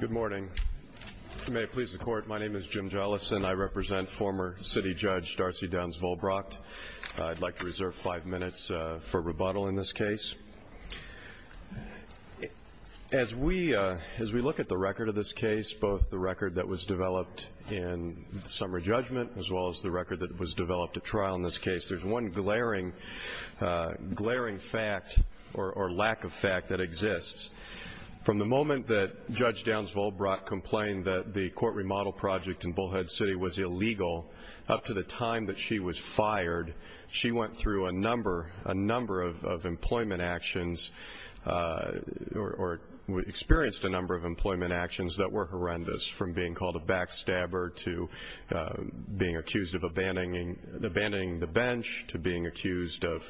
Good morning. May it please the Court, my name is Jim Jollison. I represent former City Judge Darcy Downs-Vollbracht. I'd like to reserve five minutes for rebuttal in this case. As we look at the record of this case, both the record that was developed in the summer judgment as well as the record that was developed at trial in this case, there's one glaring fact or lack of fact that exists. From the moment that Judge Downs-Vollbracht complained that the court remodel project in Bullhead City was illegal, up to the time that she was fired, she went through a number of employment actions or experienced a number of employment actions that were horrendous, from being called a backstabber to being accused of abandoning the bench to being accused of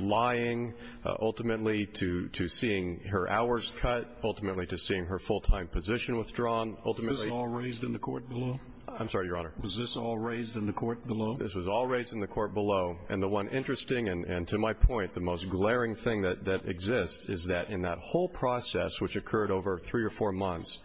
lying, ultimately to seeing her hours cut, ultimately to seeing her full-time position withdrawn. Was this all raised in the court below? I'm sorry, Your Honor. Was this all raised in the court below? This was all raised in the court below. And the one interesting and, to my point, the most glaring thing that exists is that in that whole process, which occurred over three or four months,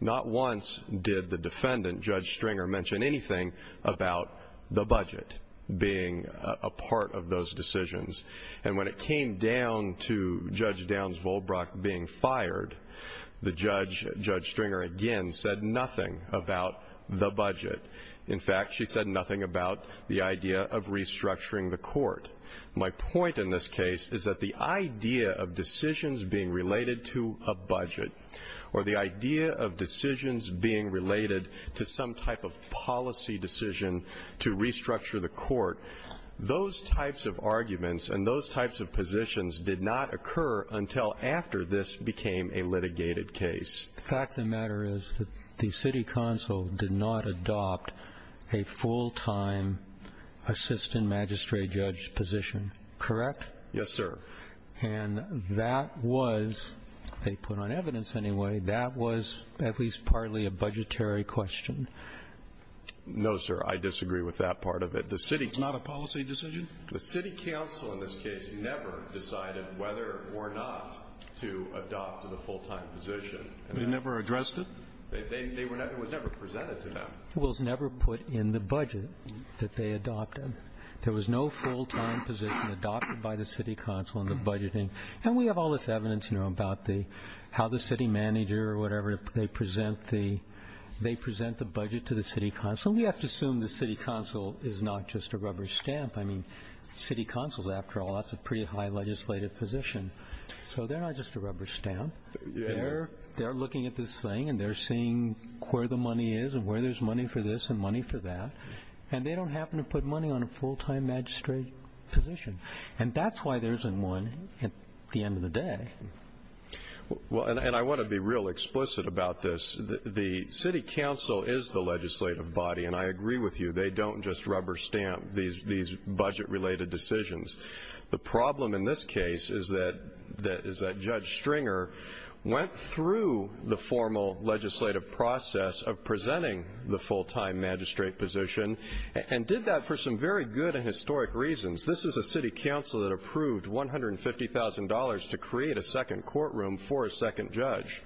not once did the defendant, Judge Stringer, mention anything about the budget being a part of those decisions. And when it came down to Judge Downs-Vollbracht being fired, Judge Stringer again said nothing about the budget. In fact, she said nothing about the idea of restructuring the court. My point in this case is that the idea of decisions being related to a budget or the idea of decisions being related to some type of policy decision to restructure the court, those types of arguments and those types of positions did not occur until after this became a litigated case. The fact of the matter is that the city council did not adopt a full-time assistant magistrate judge position. Correct? Yes, sir. And that was, they put on evidence anyway, that was at least partly a budgetary question. No, sir. I disagree with that part of it. It's not a policy decision? The city council in this case never decided whether or not to adopt the full-time position. They never addressed it? It was never presented to them. It was never put in the budget that they adopted. There was no full-time position adopted by the city council in the budgeting. And we have all this evidence, you know, about how the city manager or whatever, they present the budget to the city council. So we have to assume the city council is not just a rubber stamp. I mean, city council, after all, that's a pretty high legislative position. So they're not just a rubber stamp. They're looking at this thing and they're seeing where the money is and where there's money for this and money for that. And they don't happen to put money on a full-time magistrate position. And that's why there isn't one at the end of the day. Well, and I want to be real explicit about this. The city council is the legislative body, and I agree with you. They don't just rubber stamp these budget-related decisions. The problem in this case is that Judge Stringer went through the formal legislative process of presenting the full-time magistrate position and did that for some very good and historic reasons. This is a city council that approved $150,000 to create a second courtroom for a second judge.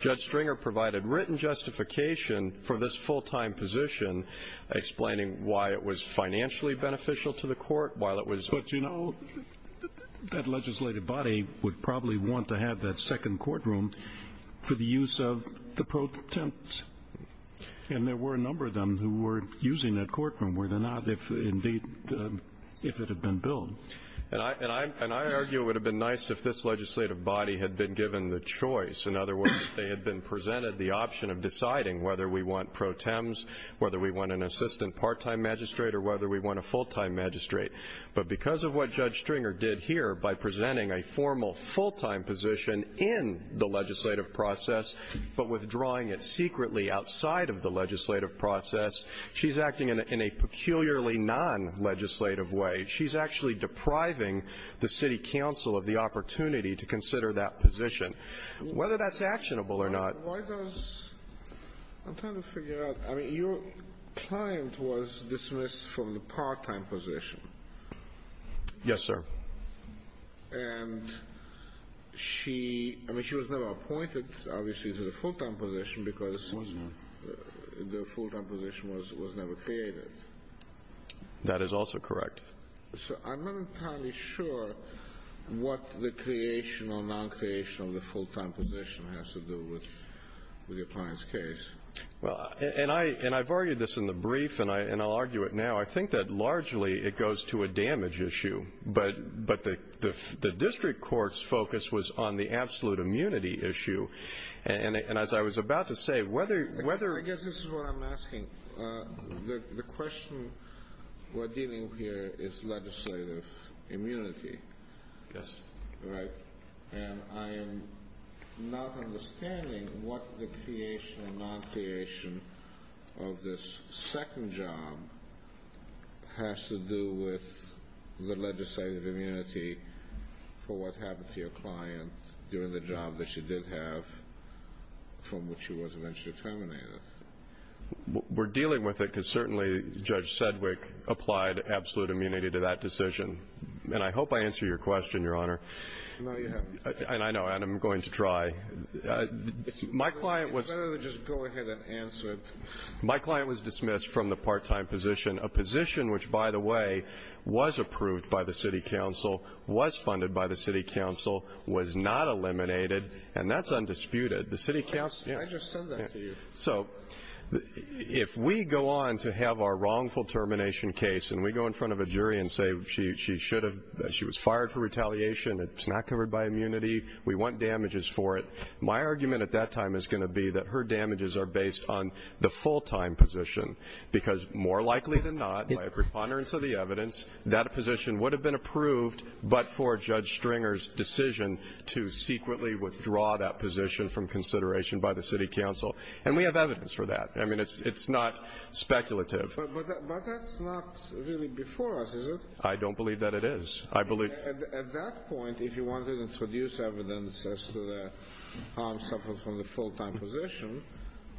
Judge Stringer provided written justification for this full-time position, explaining why it was financially beneficial to the court while it was open. But, you know, that legislative body would probably want to have that second courtroom for the use of the pro tem. And there were a number of them who were using that courtroom, were there not, if indeed it had been billed. And I argue it would have been nice if this legislative body had been given the choice, in other words, if they had been presented the option of deciding whether we want pro tems, whether we want an assistant part-time magistrate, or whether we want a full-time magistrate. But because of what Judge Stringer did here by presenting a formal full-time position in the legislative process but withdrawing it secretly outside of the legislative process, she's acting in a peculiarly non-legislative way. She's actually depriving the city council of the opportunity to consider that position, whether that's actionable or not. Why does, I'm trying to figure out, I mean, your client was dismissed from the part-time position. Yes, sir. And she, I mean, she was never appointed, obviously, to the full-time position because the full-time position was never created. That is also correct. So I'm not entirely sure what the creation or non-creation of the full-time position has to do with your client's case. Well, and I've argued this in the brief, and I'll argue it now. I think that largely it goes to a damage issue. But the district court's focus was on the absolute immunity issue. And as I was about to say, whether the question we're dealing with here is whether it's legislative immunity. Yes. Right. And I am not understanding what the creation or non-creation of this second job has to do with the legislative immunity for what happened to your client during the job that she did have from which she was eventually terminated. We're dealing with it because certainly Judge Sedgwick applied absolute immunity to that decision. And I hope I answered your question, Your Honor. No, you haven't. And I know, and I'm going to try. It's better to just go ahead and answer it. My client was dismissed from the part-time position, a position which, by the way, was approved by the city council, was funded by the city council, was not eliminated, and that's undisputed. I just said that to you. So if we go on to have our wrongful termination case and we go in front of a jury and say she should have, she was fired for retaliation, it's not covered by immunity, we want damages for it, my argument at that time is going to be that her damages are based on the full-time position because more likely than not, by a preponderance of the evidence, that position would have been approved, but for Judge Stringer's decision to secretly withdraw that position from consideration by the city council. And we have evidence for that. I mean, it's not speculative. But that's not really before us, is it? I don't believe that it is. At that point, if you wanted to introduce evidence as to the harm suffered from the full-time position,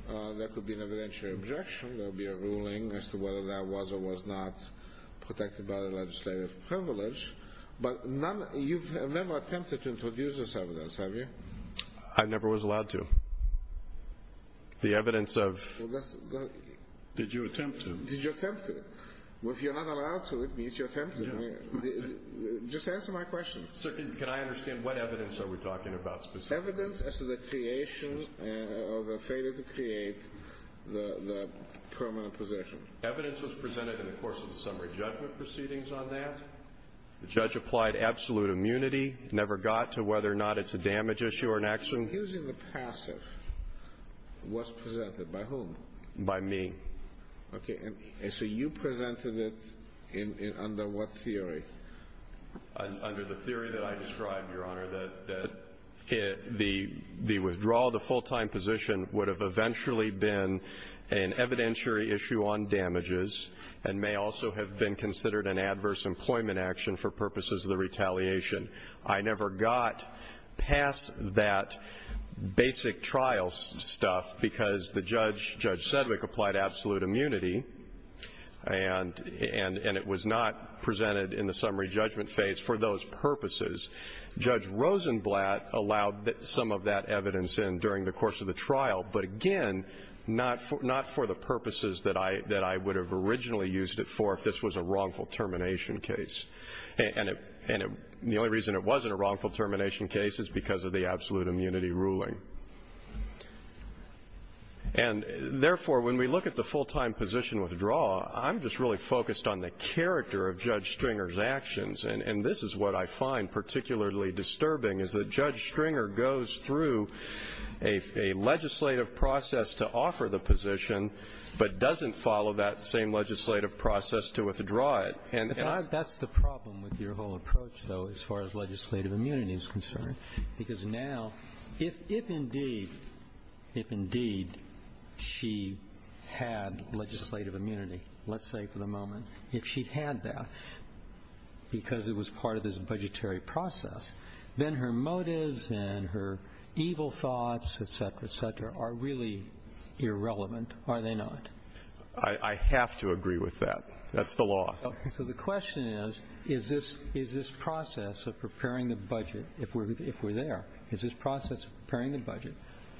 that could be an evidentiary objection. There would be a ruling as to whether that was or was not protected by the legislative privilege. But you've never attempted to introduce this evidence, have you? I never was allowed to. The evidence of... Did you attempt to? Did you attempt to? Well, if you're not allowed to, it means you attempted. Just answer my question. So can I understand, what evidence are we talking about specifically? Evidence as to the creation or the failure to create the permanent position. Evidence was presented in the course of the summary judgment proceedings on that. The judge applied absolute immunity. Never got to whether or not it's a damage issue or an accident. So accusing the passive was presented by whom? By me. Okay. And so you presented it under what theory? Under the theory that I described, Your Honor, that the withdrawal of the full-time position would have eventually been an evidentiary issue on damages and may also have been considered an adverse employment action for purposes of the retaliation. I never got past that basic trial stuff because the judge, Judge Sedgwick, applied absolute immunity, and it was not presented in the summary judgment phase for those purposes. Judge Rosenblatt allowed some of that evidence in during the course of the trial, but, again, not for the purposes that I would have originally used it for if this was a wrongful termination case. And the only reason it wasn't a wrongful termination case is because of the absolute immunity ruling. And, therefore, when we look at the full-time position withdrawal, I'm just really focused on the character of Judge Stringer's actions, and this is what I find particularly disturbing, is that Judge Stringer goes through a legislative process to offer the position but doesn't follow that same legislative process to withdraw it. That's the problem with your whole approach, though, as far as legislative immunity is concerned. Because now, if indeed she had legislative immunity, let's say for the moment, if she had that because it was part of this budgetary process, then her motives and her evil thoughts, et cetera, et cetera, are really irrelevant, are they not? I have to agree with that. That's the law. So the question is, is this process of preparing the budget, if we're there, is this process of preparing the budget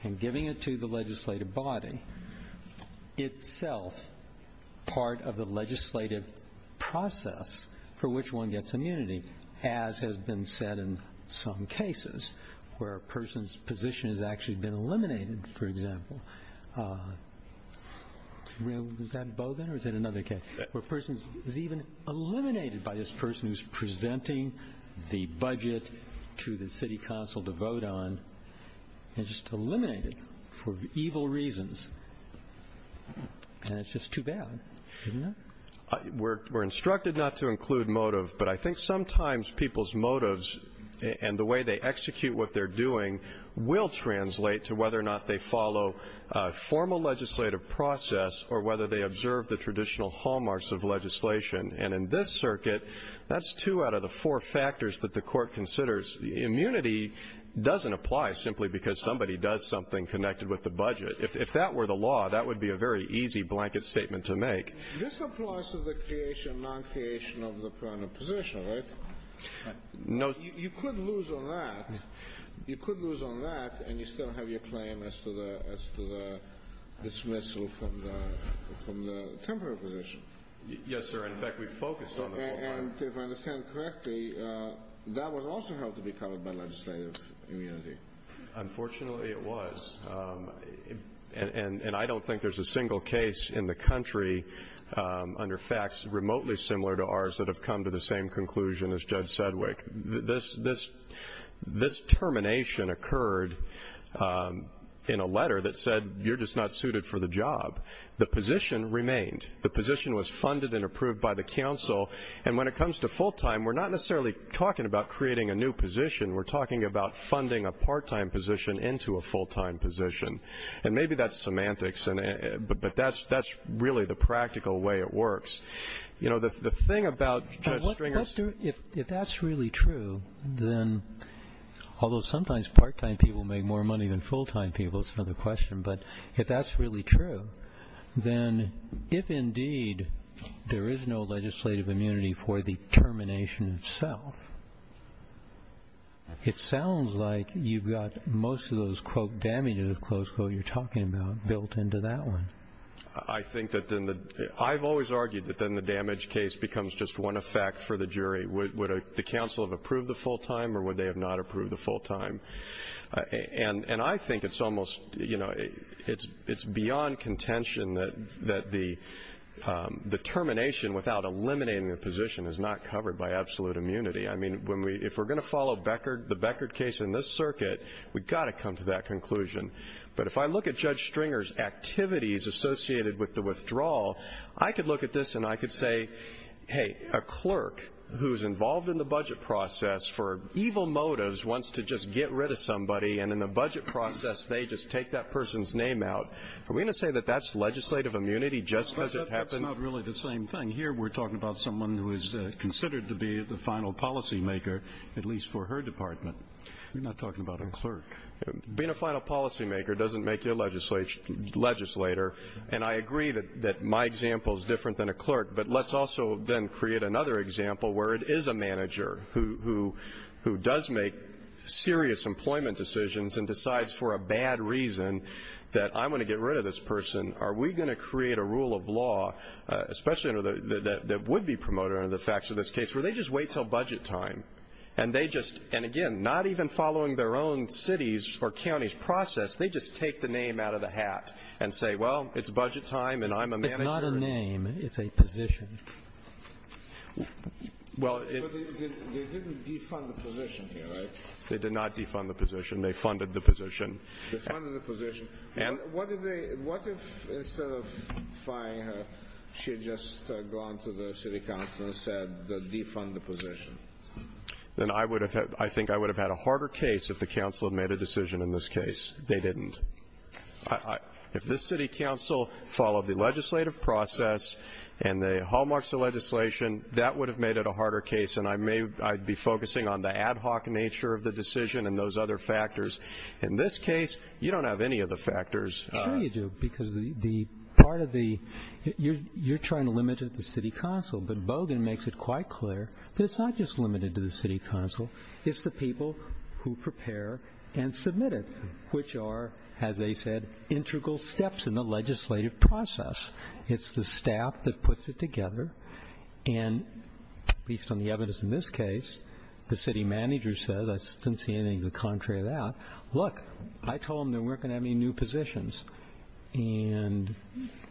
and giving it to the legislative body itself part of the legislative process for which one gets immunity, as has been said in some cases where a person's position has actually been eliminated, for example. Was that Bowdoin or was that another case? Where a person is even eliminated by this person who's presenting the budget to the city council to vote on and just eliminated for evil reasons. And it's just too bad, isn't it? We're instructed not to include motive, but I think sometimes people's motives and the way they execute what they're doing will translate to whether or not they follow formal legislative process or whether they observe the traditional hallmarks of legislation. And in this circuit, that's two out of the four factors that the Court considers. Immunity doesn't apply simply because somebody does something connected with the budget. If that were the law, that would be a very easy blanket statement to make. This applies to the creation, non-creation of the permanent position, right? No. You could lose on that. You could lose on that and you still have your claim as to the dismissal from the temporary position. Yes, sir. In fact, we focused on the court part. And if I understand correctly, that was also held to be covered by legislative immunity. Unfortunately, it was. And I don't think there's a single case in the country under facts remotely similar to ours that have come to the same conclusion as Judge Sedgwick. This termination occurred in a letter that said you're just not suited for the job. The position remained. The position was funded and approved by the counsel. And when it comes to full-time, we're not necessarily talking about creating a new position. We're talking about funding a part-time position into a full-time position. And maybe that's semantics, but that's really the practical way it works. You know, the thing about Judge Stringer's ---- If that's really true, then although sometimes part-time people make more money than full-time people, that's another question, but if that's really true, then if indeed there is no legislative immunity for the termination itself, it sounds like you've got most of those, quote, damages, close quote, you're talking about built into that one. I think that then the ---- I've always argued that then the damage case becomes just one effect for the jury. Would the counsel have approved the full-time or would they have not approved the full-time? And I think it's almost, you know, it's beyond contention that the termination without eliminating the position is not covered by absolute immunity. I mean, when we ---- if we're going to follow Beckert, the Beckert case in this circuit, we've got to come to that conclusion. But if I look at Judge Stringer's activities associated with the withdrawal, I could look at this and I could say, hey, a clerk who's involved in the budget process for evil motives wants to just get rid of somebody and in the budget process they just take that person's name out. Are we going to say that that's legislative immunity just because it happens? That's not really the same thing. Here we're talking about someone who is considered to be the final policymaker, at least for her department. We're not talking about a clerk. Being a final policymaker doesn't make you a legislator, and I agree that my example is different than a clerk, but let's also then create another example where it is a manager who does make serious employment decisions and decides for a bad reason that I'm going to get rid of this person. Are we going to create a rule of law, especially that would be promoted under the facts of this case, where they just wait until budget time and they just ---- and, again, not even following their own city's or county's process, they just take the name out of the hat and say, well, it's budget time and I'm a manager. Your name is a position. Well, it ---- But they didn't defund the position here, right? They did not defund the position. They funded the position. They funded the position. And what if they ---- what if instead of firing her, she had just gone to the city council and said defund the position? Then I would have had ---- I think I would have had a harder case if the council had made a decision in this case. They didn't. If the city council followed the legislative process and they hallmarked the legislation, that would have made it a harder case, and I may be focusing on the ad hoc nature of the decision and those other factors. In this case, you don't have any of the factors. Sure you do, because the part of the ---- you're trying to limit it to the city council, but Bogan makes it quite clear that it's not just limited to the city council. It's the people who prepare and submit it, which are, as they said, integral steps in the legislative process. It's the staff that puts it together, and at least on the evidence in this case, the city manager said, I didn't see anything to the contrary of that, look, I told them they weren't going to have any new positions, and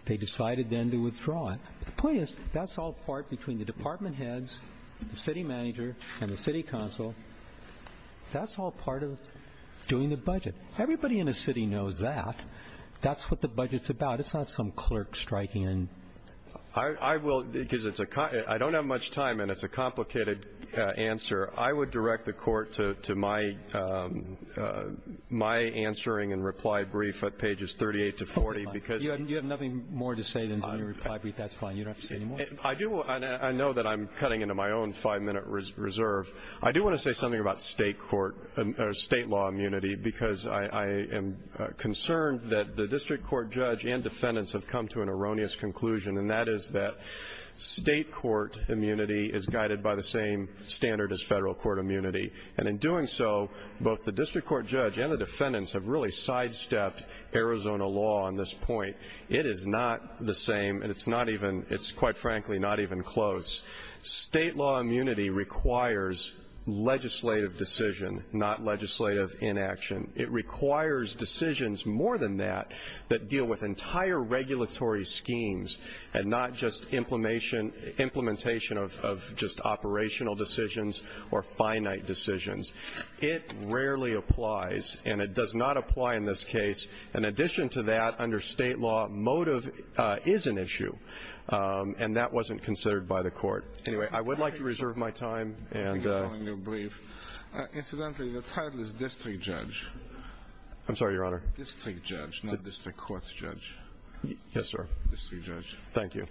they decided then to withdraw it. The point is that's all part between the department heads, the city manager, and the city council. That's all part of doing the budget. Everybody in the city knows that. That's what the budget's about. It's not some clerk striking and ---- I will, because it's a ---- I don't have much time, and it's a complicated answer. I would direct the court to my answering and reply brief at pages 38 to 40, because ---- I know that I'm cutting into my own five-minute reserve. I do want to say something about state law immunity, because I am concerned that the district court judge and defendants have come to an erroneous conclusion, and that is that state court immunity is guided by the same standard as federal court immunity, and in doing so, both the district court judge and the defendants have really sidestepped Arizona law on this point. It is not the same, and it's not even ---- it's, quite frankly, not even close. State law immunity requires legislative decision, not legislative inaction. It requires decisions more than that that deal with entire regulatory schemes and not just implementation of just operational decisions or finite decisions. It rarely applies, and it does not apply in this case. In addition to that, under state law, motive is an issue, and that wasn't considered by the court. Anyway, I would like to reserve my time and ---- Incidentally, the title is district judge. I'm sorry, Your Honor. District judge, not district court judge. Yes, sir. District judge. Thank you.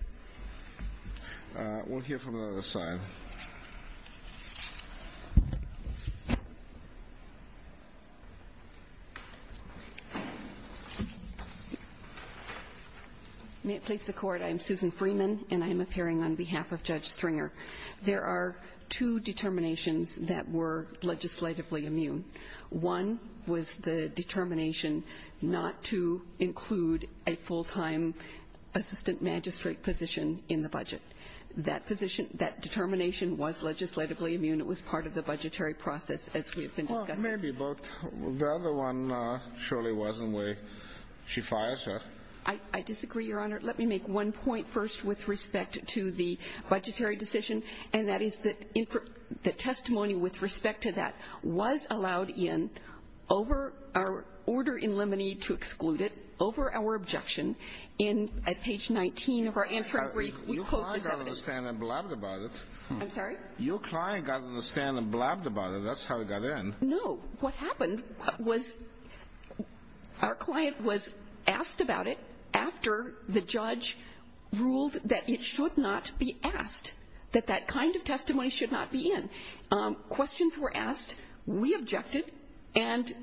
We'll hear from the other side. May it please the Court, I'm Susan Freeman, and I'm appearing on behalf of Judge Stringer. There are two determinations that were legislatively immune. One was the determination not to include a full-time assistant magistrate position in the budget. That position, that determination was legislatively immune. It was part of the budgetary process, as we have been discussing. Well, maybe, but the other one surely wasn't where she fired her. I disagree, Your Honor. Let me make one point first with respect to the budgetary decision, and that is that the testimony with respect to that was allowed in over our order in limine to exclude it, over our objection, and at page 19 of our answer, we quote this evidence. Your client got on the stand and blabbed about it. I'm sorry? Your client got on the stand and blabbed about it. That's how it got in. No. What happened was our client was asked about it after the judge ruled that it should not be asked, that that kind of testimony should not be in. Questions were asked, we objected, and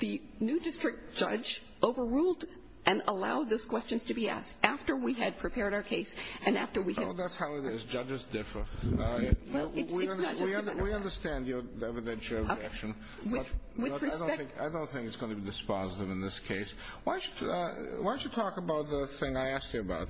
the new district judge overruled and allowed those questions to be asked after we had prepared our case and after we had. Well, that's how it is. Judges differ. Well, it's not just a matter of fact. We understand your evidentiary objection. With respect. I don't think it's going to be dispositive in this case. Why don't you talk about the thing I asked you about?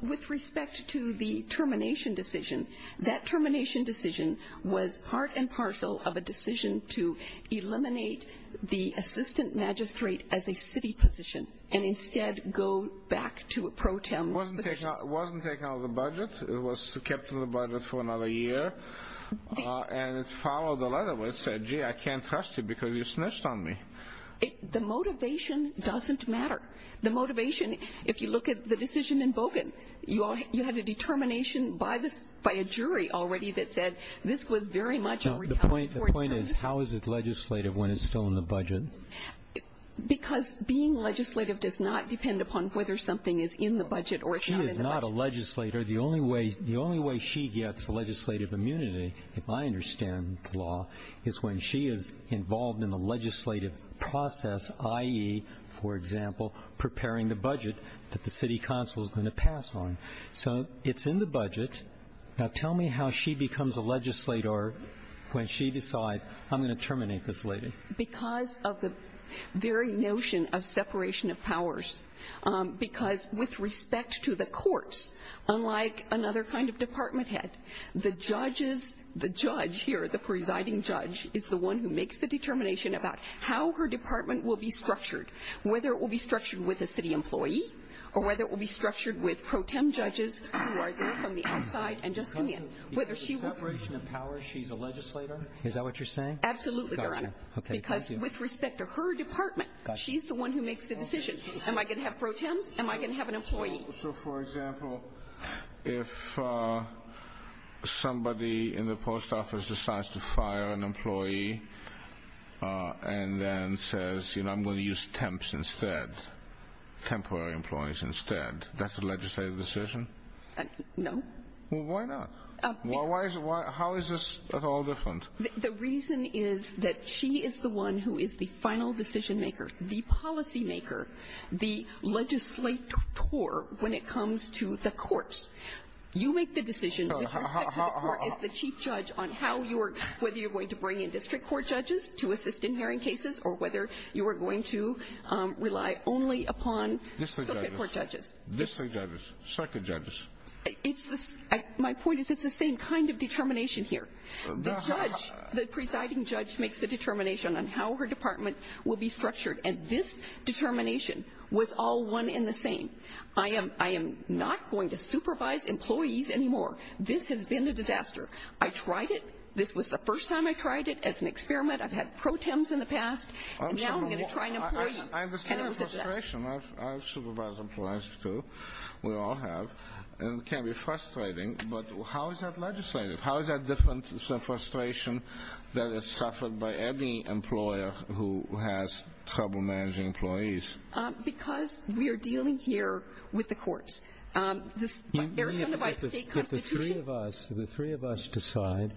With respect to the termination decision, that termination decision was part and parcel of a decision to eliminate the assistant magistrate as a city position and instead go back to a pro tem position. It wasn't taken out of the budget. It was kept in the budget for another year, and it followed the letter where it said, gee, I can't trust you because you snitched on me. The motivation doesn't matter. The motivation, if you look at the decision in Bogan, you had a determination by a jury already that said this was very much a retaliatory term. The point is, how is it legislative when it's still in the budget? Because being legislative does not depend upon whether something is in the budget or it's not in the budget. She is not a legislator. The only way she gets legislative immunity, if I understand the law, is when she is involved in the legislative process, i.e., for example, preparing the budget that the city council is going to pass on. So it's in the budget. Now tell me how she becomes a legislator when she decides, I'm going to terminate this lady. Because of the very notion of separation of powers. Because with respect to the courts, unlike another kind of department head, the judge here, the presiding judge, is the one who makes the determination about how her department will be structured, whether it will be structured with a city employee or whether it will be structured with pro tem judges who are there from the outside and just come in. Because of the separation of powers, she's a legislator? Is that what you're saying? Absolutely, Your Honor. Okay, thank you. Because with respect to her department, she's the one who makes the decision. Am I going to have pro tems? Am I going to have an employee? So, for example, if somebody in the post office decides to fire an employee and then says, you know, I'm going to use temps instead, temporary employees instead, that's a legislative decision? No. Well, why not? How is this at all different? The reason is that she is the one who is the final decision maker, the policymaker, the legislator when it comes to the courts. You make the decision with respect to the court as the chief judge on how you are, whether you're going to bring in district court judges to assist in hearing cases or whether you are going to rely only upon circuit court judges. District judges, circuit judges. My point is it's the same kind of determination here. The judge, the presiding judge, makes the determination on how her department will be structured, and this determination was all one in the same. I am not going to supervise employees anymore. This has been a disaster. I tried it. This was the first time I tried it as an experiment. I've had pro tems in the past. Now I'm going to try an employee. I understand the frustration. I've supervised employees too. We all have. It can be frustrating, but how is that legislative? How is that different from the frustration that is suffered by any employer who has trouble managing employees? Because we are dealing here with the courts. If the three of us decide,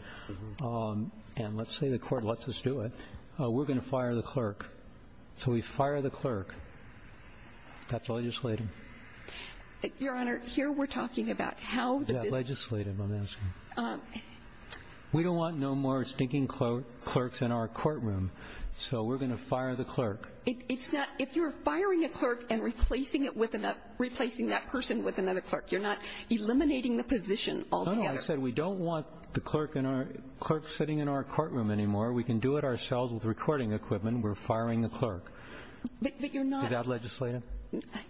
and let's say the court lets us do it, we're going to fire the clerk. So we fire the clerk. That's legislative. Your Honor, here we're talking about how the business. Legislative, I'm asking. We don't want no more stinking clerks in our courtroom, so we're going to fire the clerk. If you're firing a clerk and replacing that person with another clerk, you're not eliminating the position altogether. No, no, I said we don't want the clerk sitting in our courtroom anymore. We can do it ourselves with recording equipment. We're firing the clerk. But you're not. Is that legislative?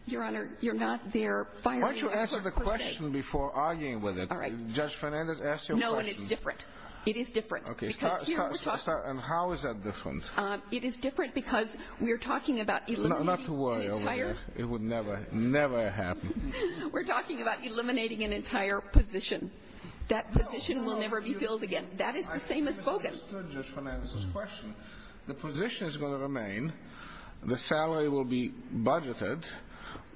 Your Honor, you're not there firing a clerk per se. Why don't you answer the question before arguing with it? All right. Judge Fernandez, ask your question. No, and it's different. It is different. Okay. And how is that different? It is different because we are talking about eliminating an entire. Not to worry over here. It would never, never happen. We're talking about eliminating an entire position. That position will never be filled again. That is the same as Bogan. I think you misunderstood Judge Fernandez's question. The position is going to remain. The salary will be budgeted.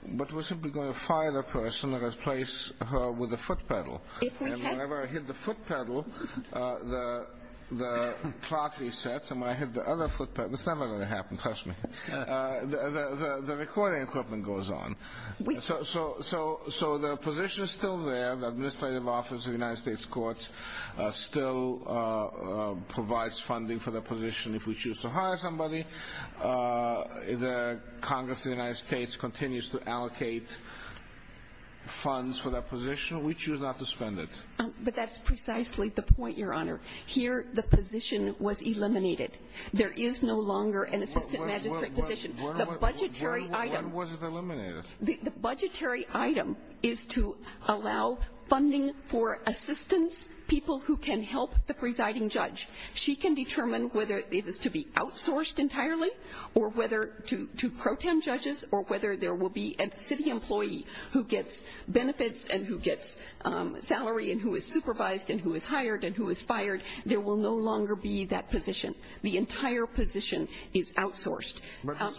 But we're simply going to fire the person and replace her with a foot pedal. And whenever I hit the foot pedal, the clock resets. And when I hit the other foot pedal, it's never going to happen. Trust me. The recording equipment goes on. So the position is still there. The Administrative Office of the United States Courts still provides funding for the position. If we choose to hire somebody, the Congress of the United States continues to allocate funds for that position. We choose not to spend it. But that's precisely the point, Your Honor. Here, the position was eliminated. There is no longer an assistant magistrate position. When was it eliminated? The budgetary item is to allow funding for assistants, people who can help the presiding judge. She can determine whether it is to be outsourced entirely or whether to pro tem judges or whether there will be a city employee who gets benefits and who gets salary and who is supervised and who is hired and who is fired. There will no longer be that position. The entire position is outsourced.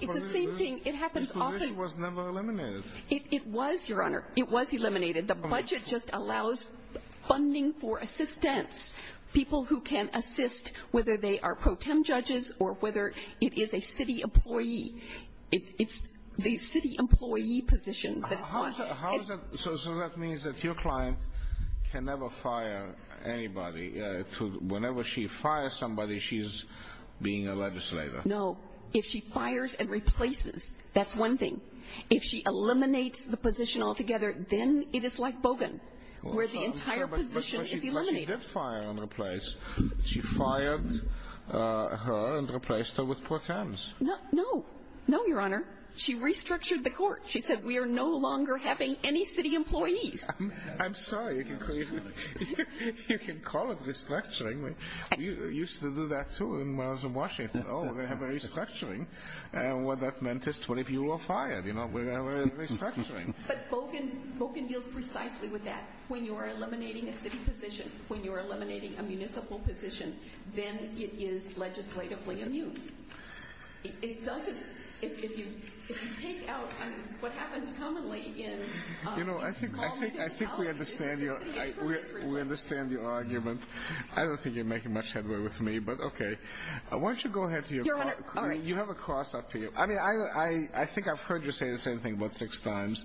It's the same thing. The position was never eliminated. It was, Your Honor. It was eliminated. The budget just allows funding for assistants, people who can assist whether they are pro tem judges or whether it is a city employee. It's the city employee position. So that means that your client can never fire anybody. Whenever she fires somebody, she's being a legislator. No. If she fires and replaces, that's one thing. If she eliminates the position altogether, then it is like Bogan, where the entire position is eliminated. If she did fire and replace, she fired her and replaced her with pro tems. No. No, Your Honor. She restructured the court. She said we are no longer having any city employees. I'm sorry. You can call it restructuring. We used to do that, too, when I was in Washington. Oh, we're going to have a restructuring. And what that meant is 20 people were fired. We're going to have a restructuring. But Bogan deals precisely with that. When you are eliminating a city position, when you are eliminating a municipal position, then it is legislatively immune. It doesn't. If you take out what happens commonly in small municipalities, it's the city employees. I think we understand your argument. I don't think you're making much headway with me, but okay. Why don't you go ahead to your part. Your Honor, all right. You have a cross up to you. I mean, I think I've heard you say the same thing about six times.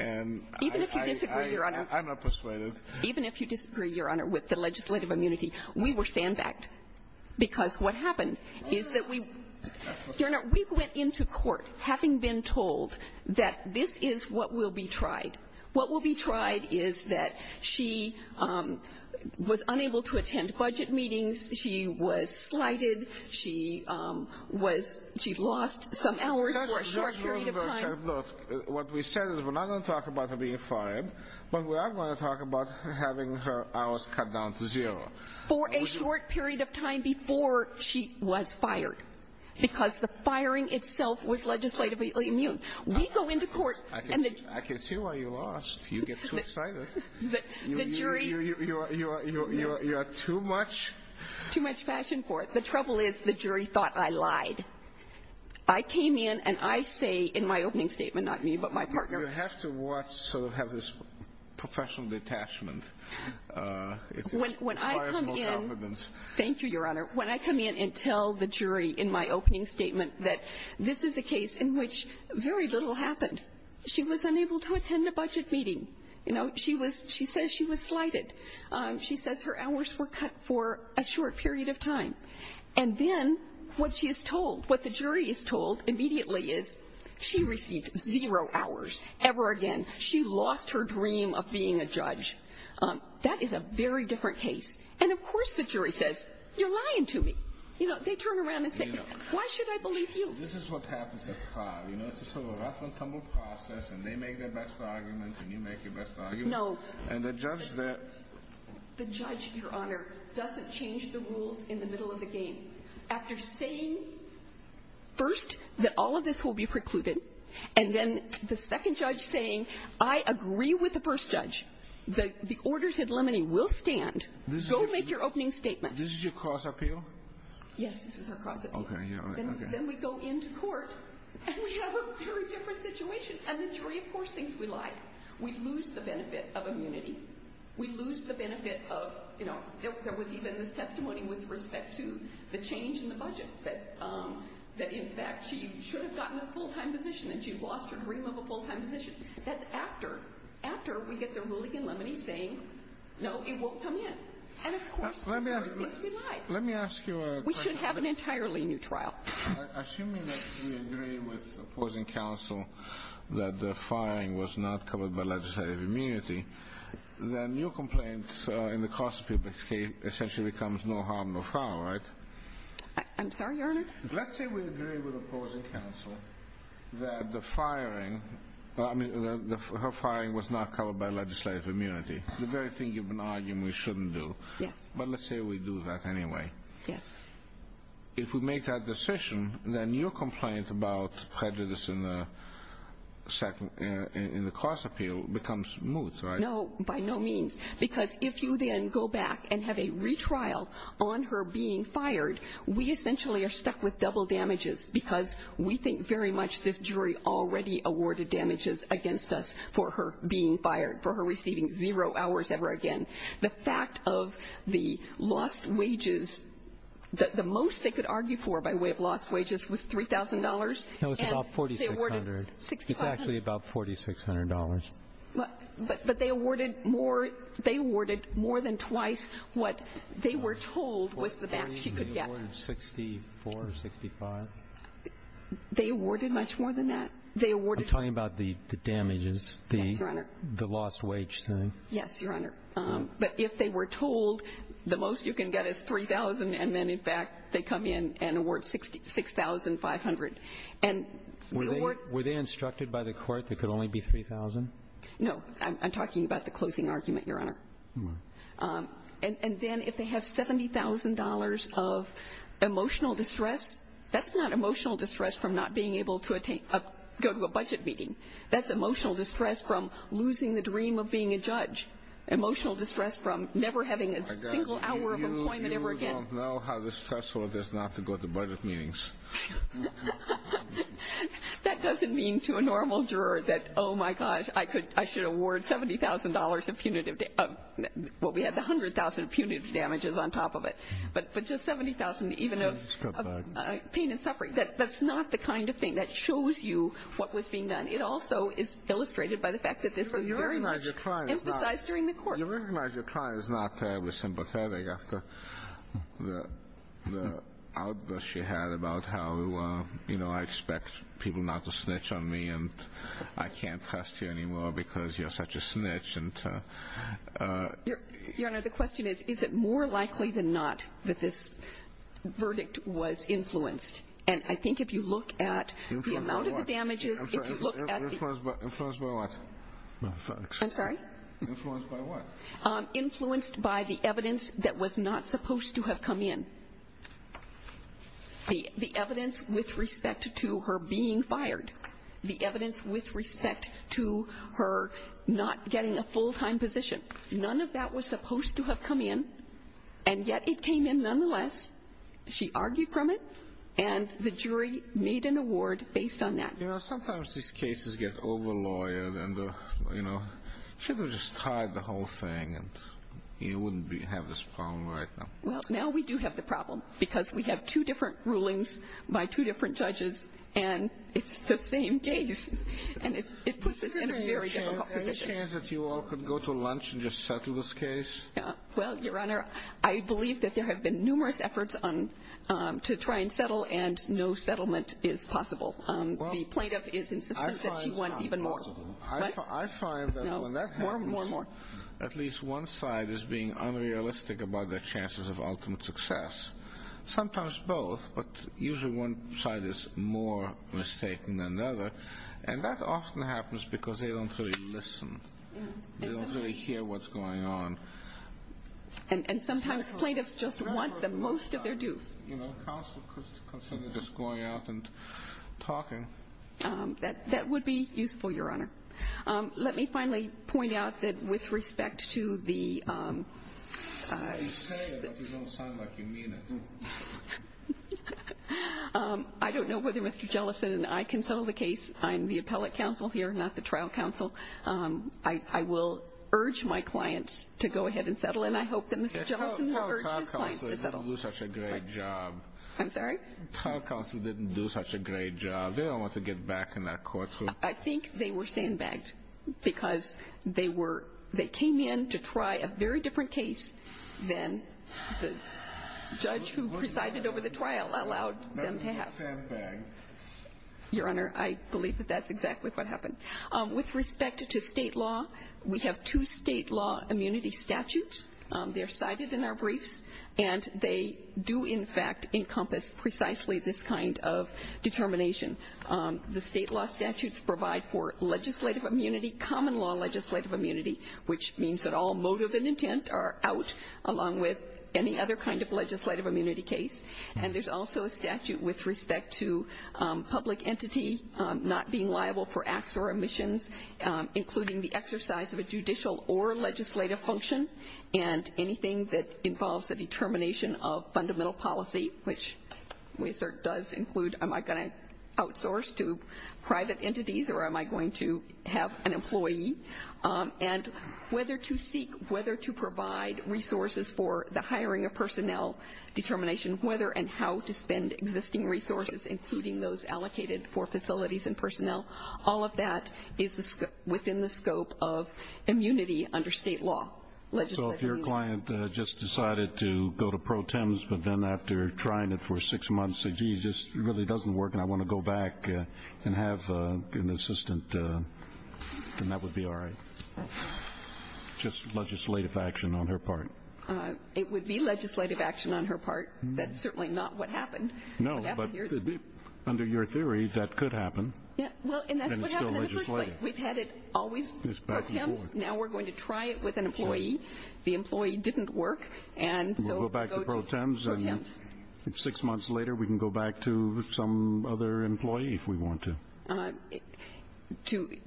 Even if you disagree, Your Honor. I'm not persuaded. Even if you disagree, Your Honor, with the legislative immunity, we were sandbagged. Because what happened is that we went into court having been told that this is what will be tried. What will be tried is that she was unable to attend budget meetings. She was slighted. She lost some hours for a short period of time. Look, what we said is we're not going to talk about her being fired, but we are going to talk about having her hours cut down to zero. For a short period of time before she was fired. Because the firing itself was legislatively immune. We go into court and the jury. I can see why you lost. You get too excited. The jury. You are too much. Too much passion for it. The trouble is the jury thought I lied. I came in and I say in my opening statement, not me, but my partner. You have to watch, sort of have this professional detachment. When I come in. Thank you, Your Honor. When I come in and tell the jury in my opening statement that this is a case in which very little happened. She was unable to attend a budget meeting. She says she was slighted. She says her hours were cut for a short period of time. And then what she is told, what the jury is told immediately is she received zero hours ever again. She lost her dream of being a judge. That is a very different case. And, of course, the jury says, you're lying to me. They turn around and say, why should I believe you? This is what happens at the trial. It's a sort of rough and tumble process and they make their best arguments and you make your best arguments. No. And the judge that. The judge, Your Honor, doesn't change the rules in the middle of the game. After saying, first, that all of this will be precluded. And then the second judge saying, I agree with the first judge. The orders in limine will stand. Go make your opening statement. This is your cross appeal? Yes, this is our cross appeal. Then we go into court and we have a very different situation. And the jury, of course, thinks we lied. We lose the benefit of immunity. We lose the benefit of, you know, there was even this testimony with respect to the change in the budget. That, in fact, she should have gotten a full-time position and she lost her dream of a full-time position. That's after. After we get the ruling in limine saying, no, it won't come in. And, of course, we lied. Let me ask you a question. We should have an entirely new trial. Assuming that we agree with opposing counsel that the firing was not covered by legislative immunity, then your complaint in the cross appeal essentially becomes no harm, no foul, right? I'm sorry, Your Honor? Let's say we agree with opposing counsel that the firing, I mean, her firing was not covered by legislative immunity. The very thing you've been arguing we shouldn't do. Yes. But let's say we do that anyway. Yes. If we make that decision, then your complaint about prejudice in the cross appeal becomes moot, right? No, by no means, because if you then go back and have a retrial on her being fired, we essentially are stuck with double damages because we think very much this jury already awarded damages against us for her being fired, for her receiving zero hours ever again. The fact of the lost wages, the most they could argue for by way of lost wages was $3,000. No, it was about $4,600. $6,500. It's actually about $4,600. But they awarded more than twice what they were told was the back she could get. They awarded $64,000 or $65,000. They awarded much more than that. I'm talking about the damages, the lost wage thing. Yes, Your Honor. But if they were told the most you can get is $3,000 and then, in fact, they come in and award $6,500. Were they instructed by the court there could only be $3,000? No. I'm talking about the closing argument, Your Honor. And then if they have $70,000 of emotional distress, that's not emotional distress from not being able to go to a budget meeting. That's emotional distress from losing the dream of being a judge. Emotional distress from never having a single hour of employment ever again. You don't know how stressful it is not to go to budget meetings. That doesn't mean to a normal juror that, oh, my gosh, I should award $70,000 of punitive damage. Well, we had the $100,000 of punitive damages on top of it. But just $70,000 even of pain and suffering, that's not the kind of thing that shows you what was being done. It also is illustrated by the fact that this was very much. Emphasized during the court. You recognize your client is not terribly sympathetic after the outburst she had about how, you know, I expect people not to snitch on me and I can't trust you anymore because you're such a snitch. Your Honor, the question is, is it more likely than not that this verdict was influenced? And I think if you look at the amount of the damages, if you look at the. Influenced by what? I'm sorry? Influenced by what? Influenced by the evidence that was not supposed to have come in. The evidence with respect to her being fired. The evidence with respect to her not getting a full-time position. None of that was supposed to have come in, and yet it came in nonetheless. She argued from it, and the jury made an award based on that. You know, sometimes these cases get over-lawyered and, you know, should have just tied the whole thing and you wouldn't have this problem right now. Well, now we do have the problem because we have two different rulings by two different judges, and it's the same case, and it puts us in a very difficult position. Is there any chance that you all could go to lunch and just settle this case? Well, Your Honor, I believe that there have been numerous efforts to try and settle, and no settlement is possible. The plaintiff is insisting that she wants even more. I find that when that happens, at least one side is being unrealistic about their chances of ultimate success. Sometimes both, but usually one side is more mistaken than the other, and that often happens because they don't really listen. They don't really hear what's going on. And sometimes plaintiffs just want the most of their due. You know, counsel could consider just going out and talking. That would be useful, Your Honor. Let me finally point out that with respect to the ---- You say it, but you don't sound like you mean it. I don't know whether Mr. Jellison and I can settle the case. I'm the appellate counsel here, not the trial counsel. I will urge my clients to go ahead and settle, and I hope that Mr. Jellison will urge his clients to settle. You didn't do such a great job. I'm sorry? Trial counsel didn't do such a great job. They don't want to get back in that courtroom. I think they were sandbagged because they came in to try a very different case than the judge who presided over the trial allowed them to have. Not sandbagged. Your Honor, I believe that that's exactly what happened. With respect to state law, we have two state law immunity statutes. They are cited in our briefs, and they do, in fact, encompass precisely this kind of determination. The state law statutes provide for legislative immunity, common law legislative immunity, which means that all motive and intent are out, along with any other kind of legislative immunity case. And there's also a statute with respect to public entity not being liable for acts or omissions, including the exercise of a judicial or legislative function, and anything that involves the determination of fundamental policy, which does include am I going to outsource to private entities or am I going to have an employee, and whether to seek, whether to provide resources for the hiring of personnel determination, whether and how to spend existing resources, including those allocated for facilities and personnel. All of that is within the scope of immunity under state law. So if your client just decided to go to pro tems but then after trying it for six months said, gee, this really doesn't work and I want to go back and have an assistant, then that would be all right. Just legislative action on her part. It would be legislative action on her part. That's certainly not what happened. No, but under your theory, that could happen. Well, and that's what happened in the first place. We've had it always pro tems. Now we're going to try it with an employee. The employee didn't work. We'll go back to pro tems and six months later we can go back to some other employee if we want to.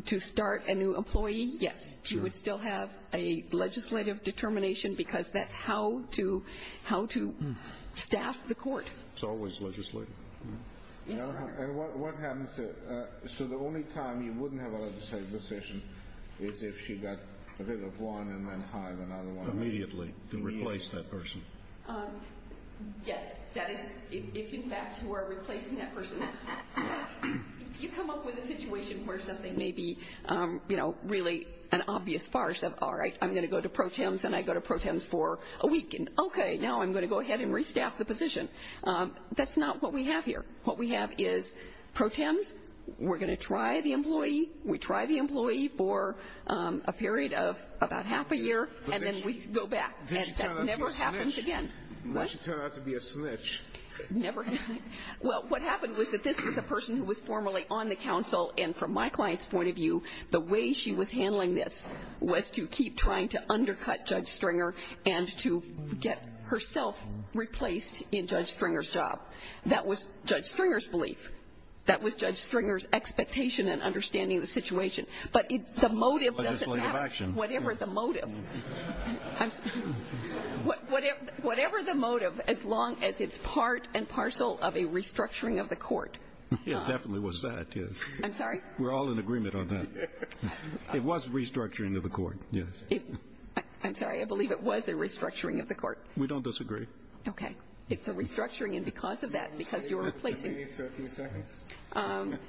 To start a new employee, yes. She would still have a legislative determination because that's how to staff the court. It's always legislative. Yes, sir. So the only time you wouldn't have a legislative decision is if she got rid of one and then hired another one. Immediately to replace that person. Yes. That is, if in fact you are replacing that person. If you come up with a situation where something may be, you know, really an obvious farce of, all right, I'm going to go to pro tems and I go to pro tems for a week. Okay, now I'm going to go ahead and restaff the position. That's not what we have here. What we have is pro tems. We're going to try the employee. We try the employee for a period of about half a year and then we go back. Then she turned out to be a snitch. What? Then she turned out to be a snitch. Never happened. Well, what happened was that this was a person who was formerly on the council and from my client's point of view the way she was handling this was to keep trying to undercut Judge Stringer and to get herself replaced in Judge Stringer's job. That was Judge Stringer's belief. That was Judge Stringer's expectation and understanding of the situation. But the motive doesn't matter. Legislative action. Whatever the motive. Whatever the motive, as long as it's part and parcel of a restructuring of the court. It definitely was that, yes. I'm sorry? We're all in agreement on that. It was restructuring of the court, yes. I'm sorry, I believe it was a restructuring of the court. We don't disagree. Okay. It's a restructuring and because of that, because you're replacing. Give me 30 seconds.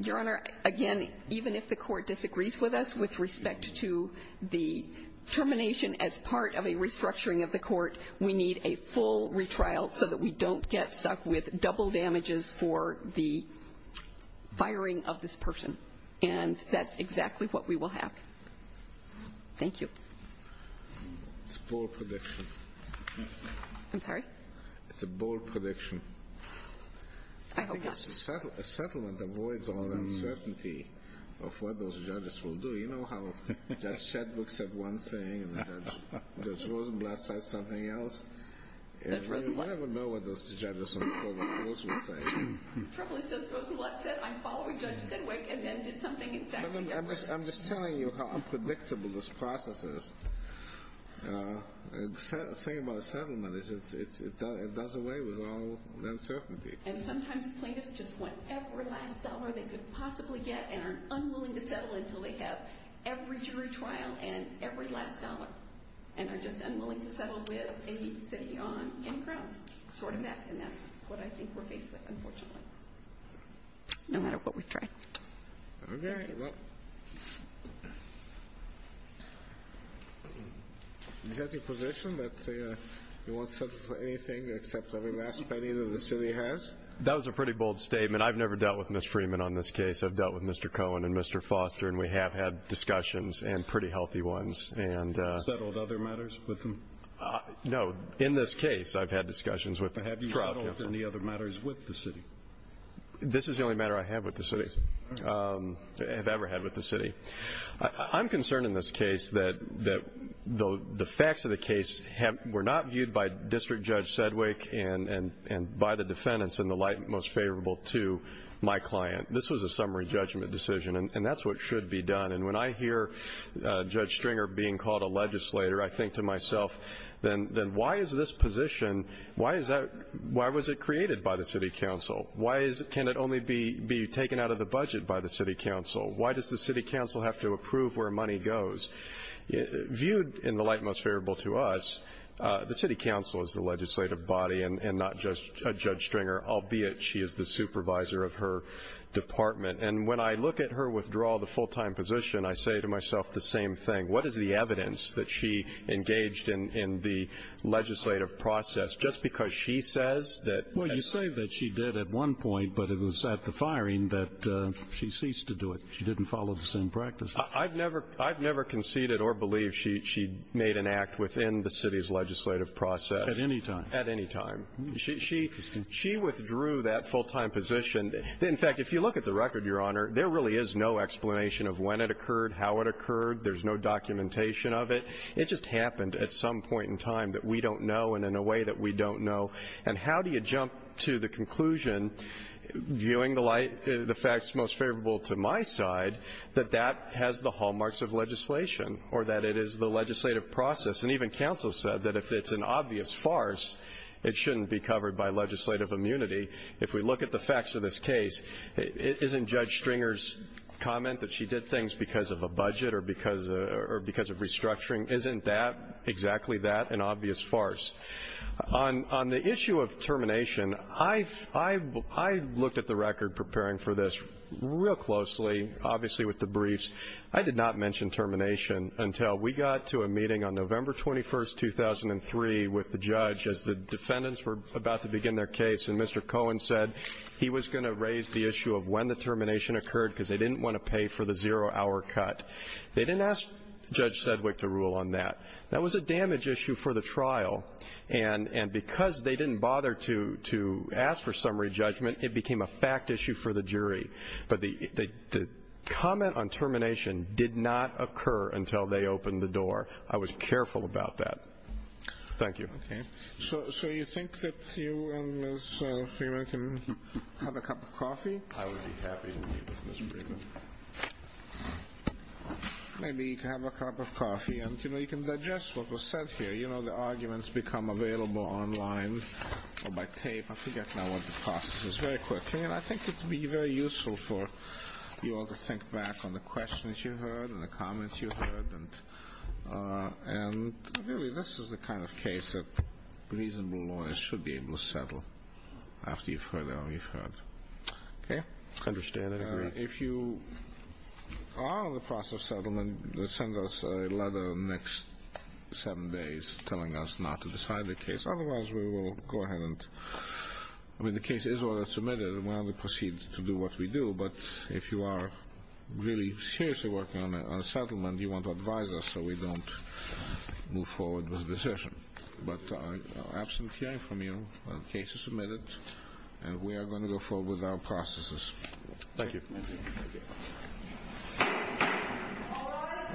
Your Honor, again, even if the court disagrees with us with respect to the termination as part of a restructuring of the court, we need a full retrial so that we don't get stuck with double damages for the firing of this person. And that's exactly what we will have. Thank you. It's a bold prediction. I'm sorry? It's a bold prediction. I hope not. A settlement avoids all uncertainty of what those judges will do. You know how Judge Sedgwick said one thing and Judge Rosenblatt said something else? Judge Rosenblatt? I don't know what those judges on the court of appeals will say. Trouble is Judge Rosenblatt said, I'm following Judge Sedgwick, and then did something exactly else. I'm just telling you how unpredictable this process is. The thing about a settlement is it does away with all uncertainty. And sometimes plaintiffs just want every last dollar they could possibly get and are unwilling to settle until they have every jury trial and every last dollar and are just unwilling to settle with a city on any grounds short of that, and that's what I think we're faced with, unfortunately. No matter what we try. Okay. Is that your position that you won't settle for anything except every last penny that the city has? That was a pretty bold statement. I've never dealt with Ms. Freeman on this case. I've dealt with Mr. Cohen and Mr. Foster, and we have had discussions and pretty healthy ones. Have you settled other matters with them? No. In this case, I've had discussions with the trial counsel. Have you settled any other matters with the city? This is the only matter I have with the city, have ever had with the city. I'm concerned in this case that the facts of the case were not viewed by District Judge Sedgwick and by the defendants in the light most favorable to my client. This was a summary judgment decision, and that's what should be done. And when I hear Judge Stringer being called a legislator, I think to myself, then why is this position, why was it created by the city council? Why can it only be taken out of the budget by the city council? Why does the city council have to approve where money goes? Viewed in the light most favorable to us, the city council is the legislative body and not just Judge Stringer, albeit she is the supervisor of her department. And when I look at her withdrawal, the full-time position, I say to myself the same thing. What is the evidence that she engaged in the legislative process just because she says that as the ---- Well, you say that she did at one point, but it was at the firing that she ceased to do it. She didn't follow the same practice. I've never conceded or believed she made an act within the city's legislative process. At any time? At any time. She withdrew that full-time position. In fact, if you look at the record, Your Honor, there really is no explanation of when it occurred, how it occurred. There's no documentation of it. It just happened at some point in time that we don't know and in a way that we don't know. And how do you jump to the conclusion, viewing the facts most favorable to my side, that that has the hallmarks of legislation or that it is the legislative process? And even counsel said that if it's an obvious farce, it shouldn't be covered by legislative immunity. If we look at the facts of this case, isn't Judge Stringer's comment that she did things because of a budget or because of restructuring, isn't that, exactly that, an obvious farce? On the issue of termination, I looked at the record preparing for this real closely, obviously with the briefs. I did not mention termination until we got to a meeting on November 21, 2003, with the judge as the defendants were about to begin their case. And Mr. Cohen said he was going to raise the issue of when the termination occurred because they didn't want to pay for the zero-hour cut. They didn't ask Judge Sedgwick to rule on that. That was a damage issue for the trial. And because they didn't bother to ask for summary judgment, it became a fact issue for the jury. But the comment on termination did not occur until they opened the door. I was careful about that. Thank you. Okay. So you think that you and Ms. Freeman can have a cup of coffee? I would be happy to meet with Ms. Freeman. Maybe you can have a cup of coffee and, you know, you can digest what was said here. You know, the arguments become available online or by tape. I forget now what the process is. Very quickly, and I think it would be very useful for you all to think back on the questions you heard and the comments you heard. And really, this is the kind of case that reasonable lawyers should be able to settle after you've heard all you've heard. Okay? I understand and agree. If you are in the process of settlement, send us a letter in the next seven days telling us not to decide the case. Otherwise, we will go ahead and, I mean, the case is already submitted and we'll proceed to do what we do. But if you are really seriously working on a settlement, you want to advise us so we don't move forward with the decision. But absent hearing from you, the case is submitted, and we are going to go forward with our processes. Thank you. Thank you. Thank you.